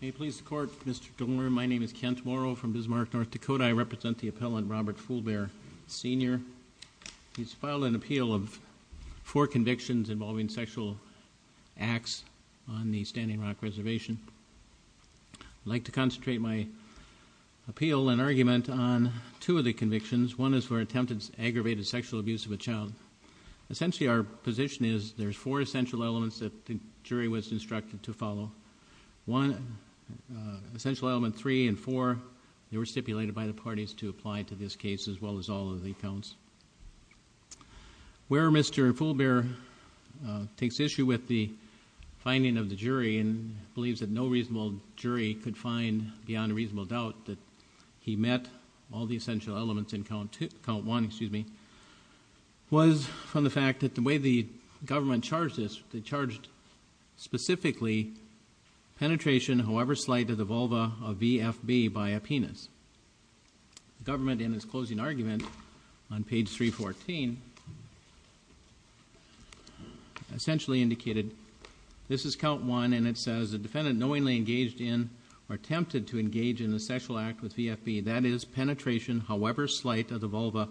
May it please the Court, Mr. Gilmour, my name is Kent Morrow from Bismarck, North Dakota. I represent the appellant Robert Fool Bear, Sr. He's filed an appeal of four convictions involving sexual acts on the Standing Rock Reservation. I'd like to concentrate my appeal and argument on two of the convictions. One is for attempted aggravated sexual abuse of a child. Essentially our position is there's four essential elements that the jury was instructed to follow. One, essential element three and four, they were stipulated by the parties to apply to this case as well as all of the accounts. Where Mr. Fool Bear takes issue with the finding of the jury and believes that no reasonable jury could find beyond a reasonable doubt that he met all the essential elements in count one was from the fact that the way the government charged this, they charged specifically penetration however slight of the vulva of VFB by a penis. Government in its closing argument on page 314 essentially indicated this is count one and it says the defendant knowingly engaged in or attempted to engage in a sexual act with VFB, that is penetration however slight of the vulva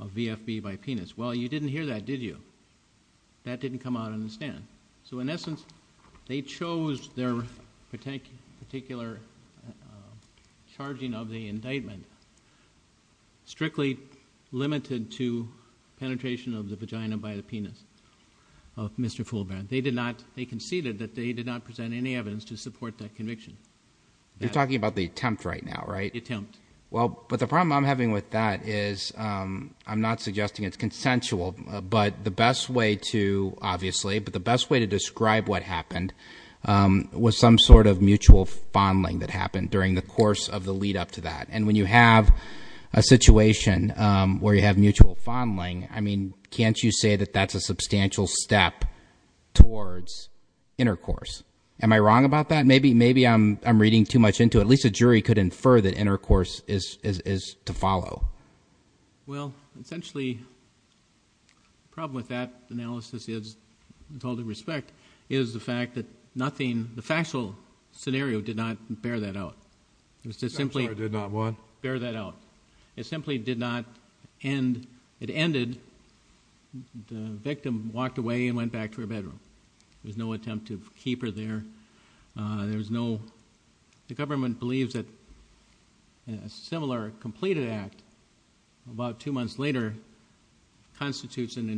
of VFB by penis. Well you didn't hear that did you? That didn't come out on the stand. So in essence they chose their particular charging of the indictment strictly limited to penetration of the vagina by the penis of Mr. Fool Bear. They conceded that they did not present any evidence to support that conviction. You're talking about the attempt right now, right? The attempt. Well, but the problem I'm having with that is I'm not suggesting it's consensual, but the best way to, obviously, but the best way to describe what happened was some sort of mutual fondling that happened during the course of the lead up to that. And when you have a situation where you have mutual fondling, I mean, can't you say that that's a substantial step towards intercourse? Am I wrong about that? Maybe I'm reading too much into it. At least a jury could infer that intercourse is to follow. Well, essentially the problem with that analysis is, with all due respect, is the fact that nothing, the factual scenario did not bear that out. I'm sorry, did not what? Bear that out. It simply did not end. It ended. The victim walked away and went back to her bedroom. There was no attempt to keep her there. There was no, the government believes that a similar completed act about two months later constitutes an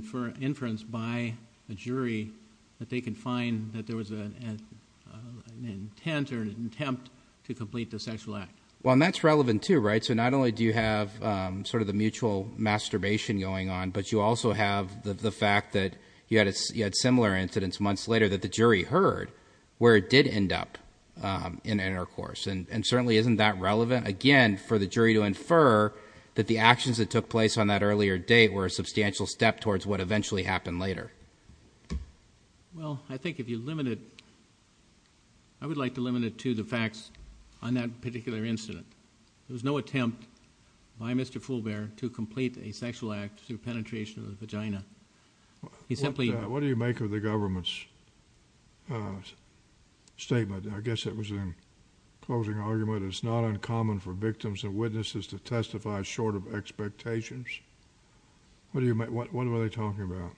inference by a jury that they can find that there was an intent or an attempt to complete the sexual act. Well, and that's relevant too, right? So not only do you have sort of the mutual masturbation going on, but you also have the fact that you had similar incidents months later that the jury heard where it did end up in intercourse. And certainly isn't that relevant, again, for the jury to infer that the actions that took place on that earlier date were a substantial step towards what eventually happened later? Well, I think if you limit it, I would like to limit it to the facts on that particular incident. There was no attempt by Mr. Fulbear to complete a sexual act through penetration of the vagina. He simply... What do you make of the government's statement? I guess it was a closing argument. It's not uncommon for victims and witnesses to testify short of expectations. What were they talking about?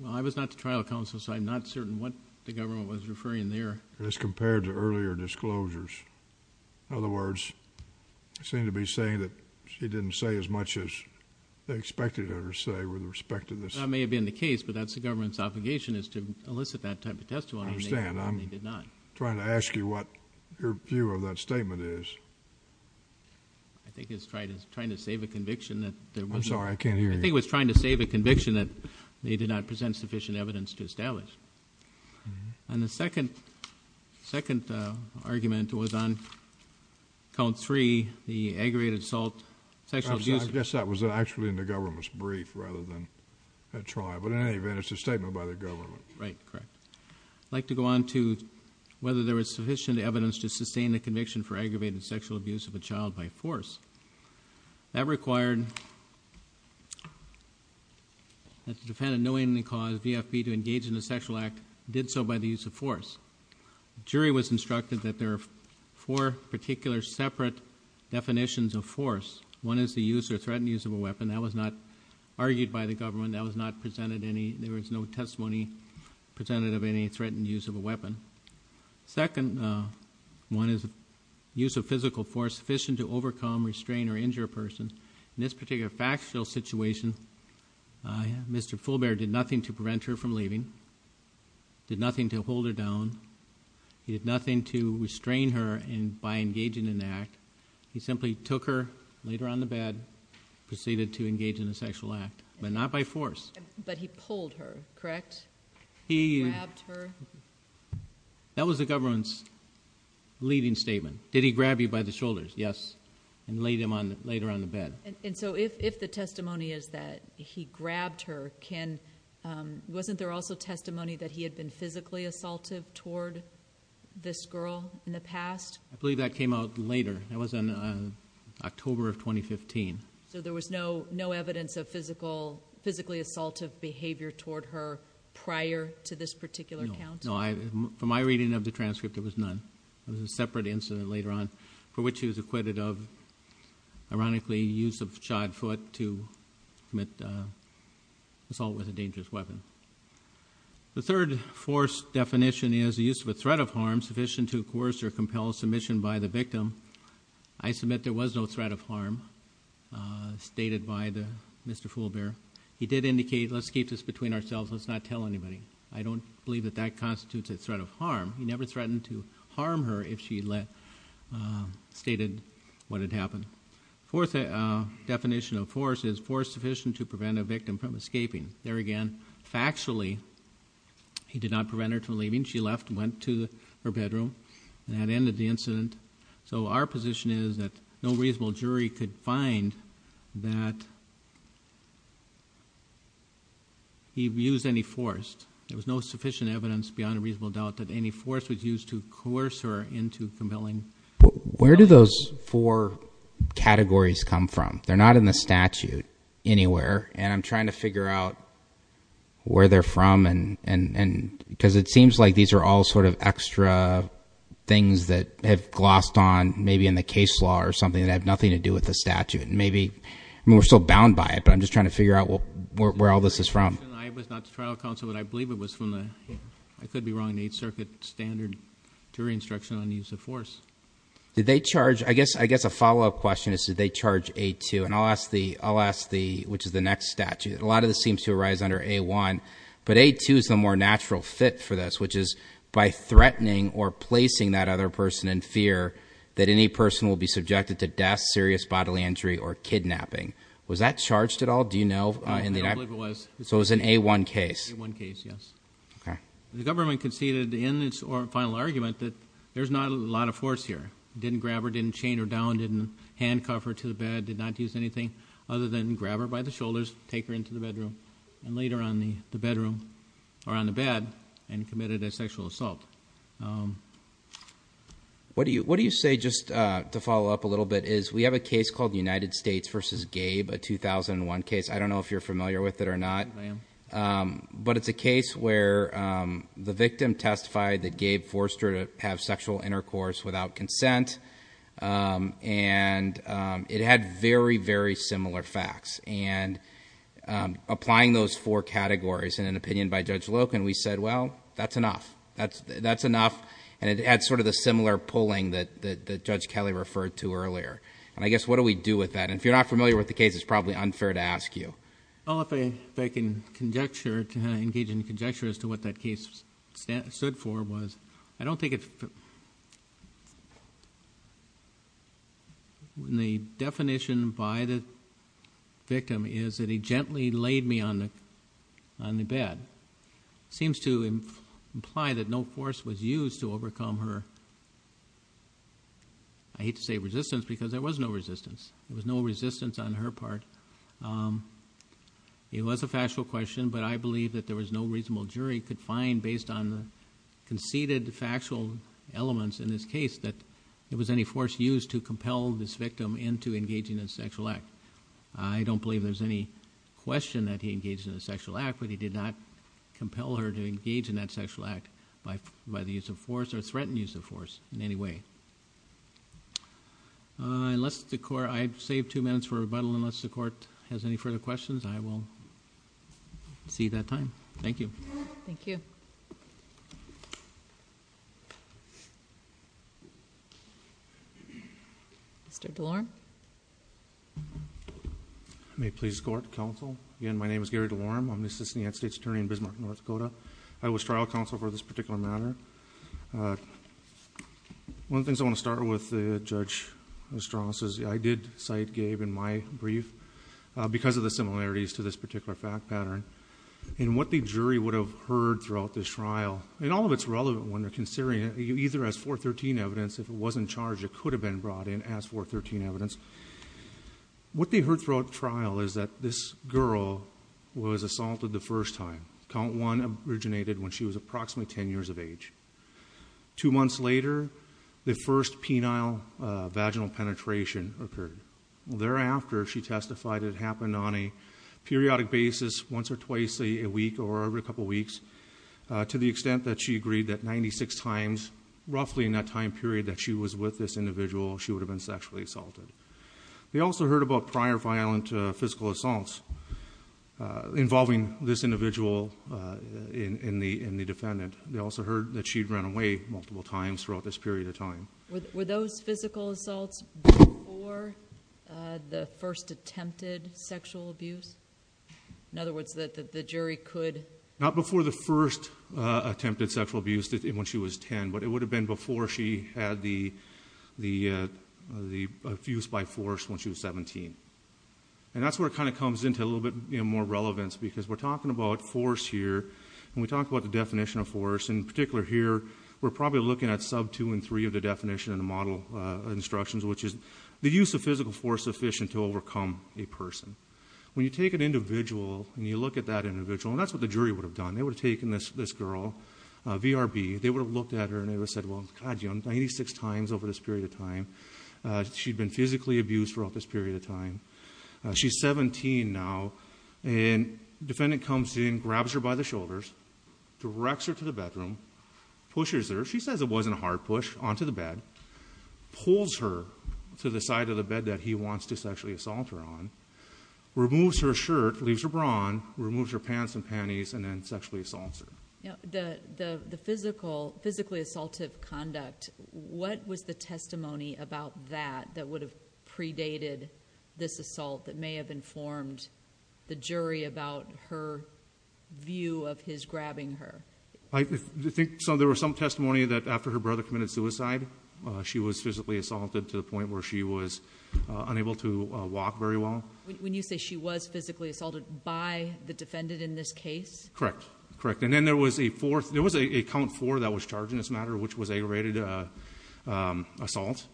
Well, I was not the trial counsel, so I'm not certain what the government was referring there. As compared to earlier disclosures. In other words, they seem to be saying that she didn't say as much as they expected her to say with respect to this. That may have been the case, but that's the government's obligation is to elicit that type of testimony. I understand. They did not. I'm trying to ask you what your view of that statement is. I think it's trying to save a conviction that... I'm sorry, I can't hear you. I think it was trying to save a conviction that they did not present sufficient evidence to establish. And the second argument was on count three, the aggravated assault, sexual abuse... I guess that was actually in the government's brief rather than at trial. But in any event, it's a statement by the government. Right, correct. I'd like to go on to whether there was sufficient evidence to sustain a conviction for aggravated sexual abuse of a child by force. That required that the defendant knowingly caused BFP to engage in a sexual act, did so by the use of force. The jury was instructed that there are four particular separate definitions of force. One is the use or threatened use of a weapon. That was not argued by the government. That was not presented any... there was no testimony presented of any threatened use of a weapon. Second one is the use of physical force sufficient to overcome, restrain, or injure a person. In this particular factual situation, Mr. Fullbear did nothing to prevent her from leaving, did nothing to hold her down. He did nothing to restrain her by engaging in an act. He simply took her, laid her on the bed, proceeded to engage in a sexual act. But not by force. But he pulled her, correct? He... Grabbed her? That was the government's leading statement. Did he grab you by the shoulders? Yes. And laid her on the bed. And so if the testimony is that he grabbed her, wasn't there also testimony that he had been physically assaultive toward this girl in the past? I believe that came out later. That was in October of 2015. So there was no evidence of physical... physically assaultive behavior toward her prior to this particular count? No. From my reading of the transcript, there was none. It was a separate incident later on for which he was acquitted of, ironically, use of a shod foot to commit assault with a dangerous weapon. The third force definition is the use of a threat of harm sufficient to coerce or compel submission by the victim. I submit there was no threat of harm stated by Mr. Fullbear. He did indicate, let's keep this between ourselves. Let's not tell anybody. I don't believe that that constitutes a threat of harm. He never threatened to harm her if she let... stated what had happened. Fourth definition of force is force sufficient to prevent a victim from escaping. There again, factually, he did not prevent her from leaving. She left and went to her bedroom. That ended the incident. So our position is that no reasonable jury could find that he used any force. There was no sufficient evidence beyond a reasonable doubt that any force was used to coerce her into compelling... Where do those four categories come from? They're not in the statute anywhere, and I'm trying to figure out where they're from. Because it seems like these are all sort of extra things that have glossed on, maybe in the case law or something, that have nothing to do with the statute. And maybe... I mean, we're still bound by it, but I'm just trying to figure out where all this is from. I was not to trial counsel, but I believe it was from the... I could be wrong. The Eighth Circuit standard jury instruction on the use of force. Did they charge... I guess a follow-up question is did they charge A2? And I'll ask the... I'll ask the... which is the next statute. A lot of this seems to arise under A1. But A2 is the more natural fit for this, which is by threatening or placing that other person in fear that any person will be subjected to death, serious bodily injury, or kidnapping. Was that charged at all? Do you know? I don't believe it was. So, it was an A1 case? A1 case, yes. Okay. The government conceded in its final argument that there's not a lot of force here. Didn't grab her, didn't chain her down, didn't handcuff her to the bed, did not use anything other than grab her by the shoulders, take her into the bedroom, and later on the bedroom, or on the bed, and committed a sexual assault. What do you say, just to follow up a little bit, is we have a case called United States v. Gabe, a 2001 case. I don't know if you're familiar with it or not. I am. But it's a case where the victim testified that Gabe forced her to have sexual intercourse without consent. And it had very, very similar facts. And applying those four categories in an opinion by Judge Loken, we said, well, that's enough. That's enough. And it had sort of the similar pulling that Judge Kelly referred to earlier. And I guess, what do we do with that? And if you're not familiar with the case, it's probably unfair to ask you. Well, if I can engage in conjecture as to what that case stood for, I don't think it fit. The definition by the victim is that he gently laid me on the bed. It seems to imply that no force was used to overcome her, I hate to say resistance, because there was no resistance. There was no resistance on her part. It was a factual question, but I believe that there was no reasonable jury could find, based on the conceded factual elements in this case, that there was any force used to compel this victim into engaging in a sexual act. I don't believe there's any question that he engaged in a sexual act, but he did not compel her to engage in that sexual act by the use of force or threaten use of force in any way. I've saved two minutes for rebuttal. Unless the Court has any further questions, I will see that time. Thank you. Thank you. Mr. DeLorme. May it please the Court, Counsel. Again, my name is Gary DeLorme. I'm the Assistant United States Attorney in Bismarck, North Dakota. I was trial counsel for this particular matter. One of the things I want to start with, Judge Ostrowski, is I did cite Gabe in my brief, because of the similarities to this particular fact pattern, and what the jury would have heard throughout this trial, and all of it's relevant when they're considering it, either as 413 evidence, if it was in charge, it could have been brought in as 413 evidence. What they heard throughout trial is that this girl was assaulted the first time. Count one originated when she was approximately ten years of age. Two months later, the first penile vaginal penetration occurred. Thereafter, she testified it happened on a periodic basis, once or twice a week, or every couple of weeks, to the extent that she agreed that 96 times, roughly in that time period that she was with this individual, she would have been sexually assaulted. They also heard about prior violent physical assaults involving this individual in the defendant. They also heard that she'd run away multiple times throughout this period of time. Were those physical assaults before the first attempted sexual abuse? In other words, that the jury could... Not before the first attempted sexual abuse when she was ten, but it would have been before she had the abuse by force when she was 17. And that's where it kind of comes into a little bit more relevance, because we're talking about force here, and we talk about the definition of force. In particular here, we're probably looking at sub two and three of the definition in the model instructions, which is the use of physical force sufficient to overcome a person. When you take an individual and you look at that individual, and that's what the jury would have done, they would have taken this girl, VRB, they would have looked at her and they would have said, well, God, you know, 96 times over this period of time, she'd been physically abused throughout this period of time. She's 17 now, and the defendant comes in, grabs her by the shoulders, directs her to the bedroom, pushes her. She says it wasn't a hard push, onto the bed, pulls her to the side of the bed that he wants to sexually assault her on, removes her shirt, leaves her bra on, removes her pants and panties, and then sexually assaults her. The physically assaultive conduct, what was the testimony about that that would have predated this assault that may have informed the jury about her view of his grabbing her? I think there was some testimony that after her brother committed suicide, she was physically assaulted to the point where she was unable to walk very well. When you say she was physically assaulted by the defendant in this case? Correct. And then there was a count four that was charged in this matter, which was a rated assault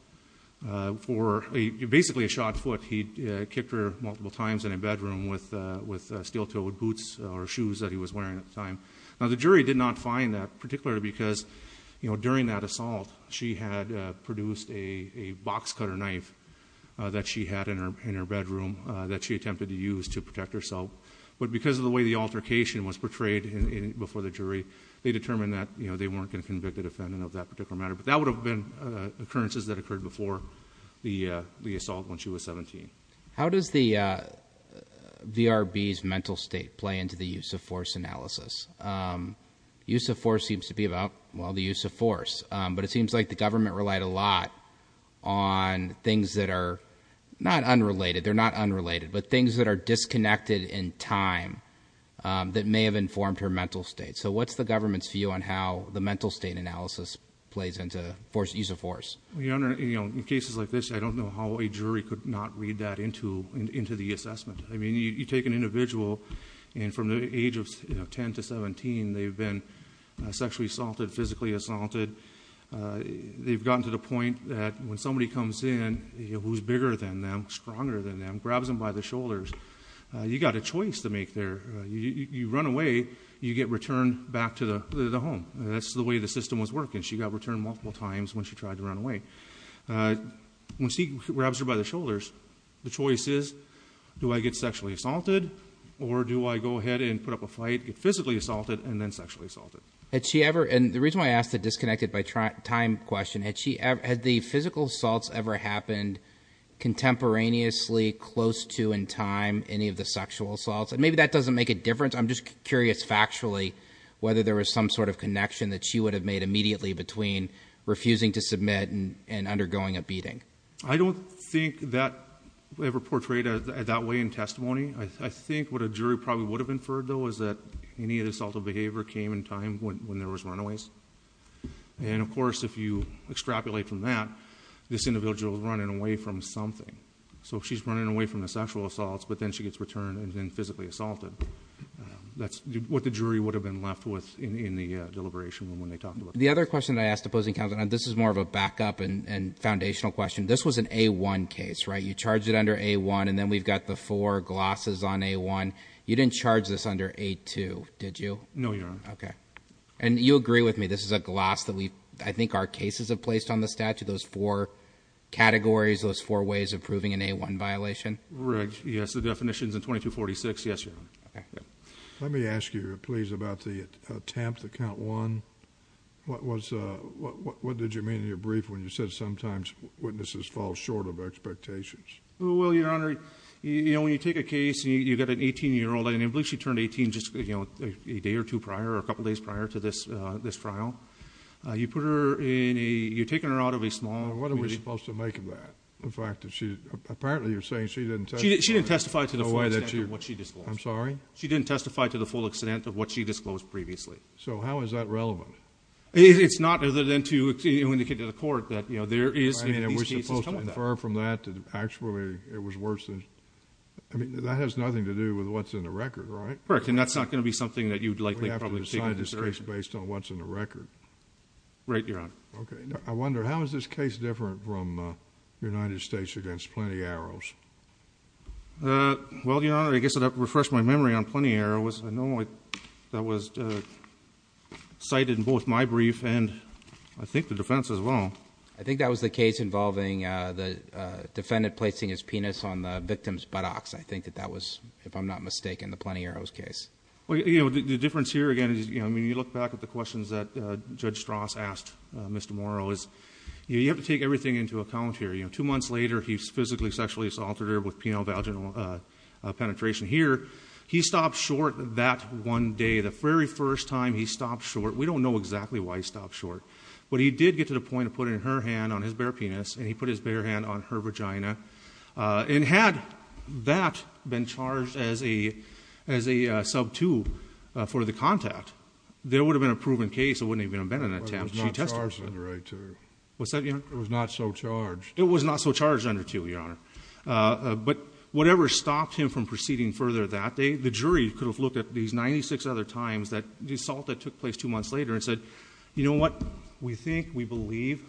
for basically a shot foot. He kicked her multiple times in a bedroom with steel-toed boots or shoes that he was wearing at the time. Now, the jury did not find that, particularly because during that assault, she had produced a box cutter knife that she had in her bedroom that she attempted to use to protect herself. But because of the way the altercation was portrayed before the jury, they determined that they weren't going to convict the defendant of that particular matter. But that would have been occurrences that occurred before the assault when she was 17. How does the VRB's mental state play into the use-of-force analysis? Use-of-force seems to be about, well, the use of force. But it seems like the government relied a lot on things that are not unrelated. They're not unrelated, but things that are disconnected in time that may have informed her mental state. So what's the government's view on how the mental state analysis plays into use-of-force? Your Honor, in cases like this, I don't know how a jury could not read that into the assessment. I mean, you take an individual, and from the age of 10 to 17, they've been sexually assaulted, physically assaulted. They've gotten to the point that when somebody comes in who's bigger than them, stronger than them, grabs them by the shoulders, you've got a choice to make there. You run away, you get returned back to the home. That's the way the system was working. She got returned multiple times when she tried to run away. Once he grabs her by the shoulders, the choice is, do I get sexually assaulted, or do I go ahead and put up a fight, get physically assaulted, and then sexually assaulted? And the reason why I asked the disconnected by time question, had the physical assaults ever happened contemporaneously, close to in time, any of the sexual assaults? And maybe that doesn't make a difference. I'm just curious factually whether there was some sort of connection that she would have made immediately between refusing to submit and undergoing a beating. I don't think that was ever portrayed that way in testimony. I think what a jury probably would have inferred, though, is that any of the assaultive behavior came in time when there was runaways. And, of course, if you extrapolate from that, this individual is running away from something. So she's running away from the sexual assaults, but then she gets returned and then physically assaulted. That's what the jury would have been left with in the deliberation when they talked about that. The other question I asked the opposing counsel, and this is more of a backup and foundational question, this was an A1 case, right? You charged it under A1, and then we've got the four glosses on A1. You didn't charge this under A2, did you? No, Your Honor. Okay. And you agree with me this is a gloss that I think our cases have placed on the statute, those four categories, those four ways of proving an A1 violation? Rigged, yes. The definition is in 2246. Yes, Your Honor. Okay. Let me ask you, please, about the attempt at count one. What did you mean in your brief when you said sometimes witnesses fall short of expectations? Well, Your Honor, when you take a case and you've got an 18-year-old, and I believe she turned 18 just a day or two prior or a couple days prior to this trial, you're taking her out of a small community. What are we supposed to make of that? Apparently you're saying she didn't testify to the full extent of what she disclosed. I'm sorry? She didn't testify to the full extent of what she disclosed previously. So how is that relevant? It's not other than to indicate to the court that there is, if these cases come up, that. We're supposed to infer from that that actually it was worse than, I mean, that has nothing to do with what's in the record, right? Correct. And that's not going to be something that you'd likely probably take into consideration. We have to decide this case based on what's in the record. Right, Your Honor. Okay. I wonder, how is this case different from United States against Plenty Arrows? Well, Your Honor, I guess I'd have to refresh my memory on Plenty Arrows. I know that was cited in both my brief and I think the defense as well. I think that was the case involving the defendant placing his penis on the victim's buttocks. I think that that was, if I'm not mistaken, the Plenty Arrows case. The difference here, again, when you look back at the questions that Judge Strauss asked Mr. Morrow, is you have to take everything into account here. Two months later, he's physically, sexually assaulted her with penile-vaginal penetration. Here, he stopped short that one day, the very first time he stopped short. We don't know exactly why he stopped short. But he did get to the point of putting her hand on his bare penis, and he put his bare hand on her vagina. And had that been charged as a sub-two for the contact, there would have been a proven case. It wouldn't even have been an attempt. She tested it. It was not so charged. It was not so charged under two, Your Honor. But whatever stopped him from proceeding further that day, the jury could have looked at these 96 other times that the assault that took place two months later and said, you know what, we think, we believe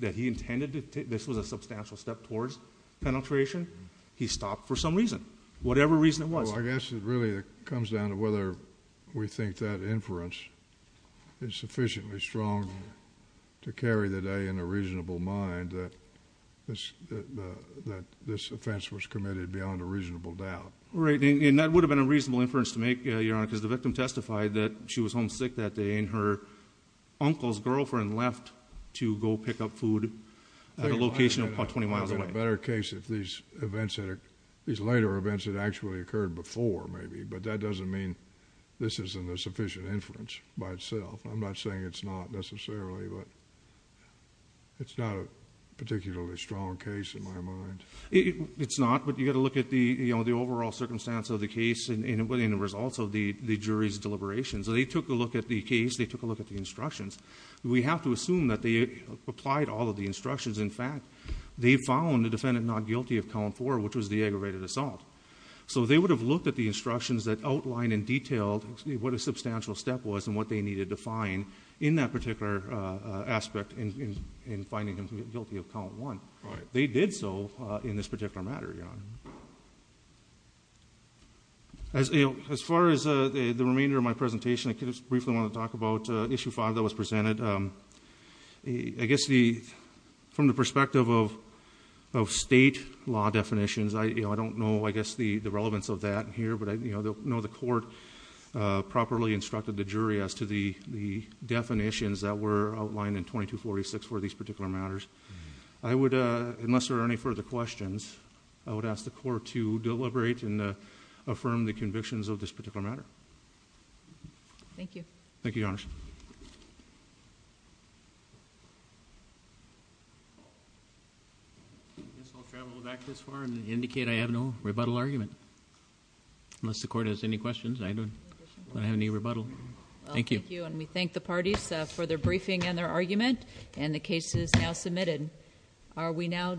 that he intended to take this. This was a substantial step towards penetration. He stopped for some reason, whatever reason it was. Well, I guess it really comes down to whether we think that inference is sufficiently strong to carry the day in a reasonable mind that this offense was committed beyond a reasonable doubt. Right. And that would have been a reasonable inference to make, Your Honor, because the victim testified that she was homesick that day, and her uncle's girlfriend left to go pick up food at a location about 20 miles away. I think it would have been a better case if these events, these later events had actually occurred before, maybe. But that doesn't mean this isn't a sufficient inference by itself. I'm not saying it's not necessarily, but it's not a particularly strong case in my mind. It's not, but you've got to look at the overall circumstance of the case and the results of the jury's deliberations. They took a look at the case. They took a look at the instructions. We have to assume that they applied all of the instructions. In fact, they found the defendant not guilty of column four, which was the aggravated assault. So they would have looked at the instructions that outline in detail what a substantial step was and what they needed to find in that particular aspect in finding him guilty of column one. Right. They did so in this particular matter, Your Honor. As far as the remainder of my presentation, I just briefly want to talk about issue five that was presented. I guess from the perspective of state law definitions, I don't know, I guess, the relevance of that here. But I know the court properly instructed the jury as to the definitions that were outlined in 2246 for these particular matters. I would, unless there are any further questions, I would ask the court to deliberate and affirm the convictions of this particular matter. Thank you. Thank you, Your Honor. I guess I'll travel back this far and indicate I have no rebuttal argument. Unless the court has any questions, I don't want to have any rebuttal. Thank you. Thank you, and we thank the parties for their briefing and their argument, and the case is now submitted. Are we now?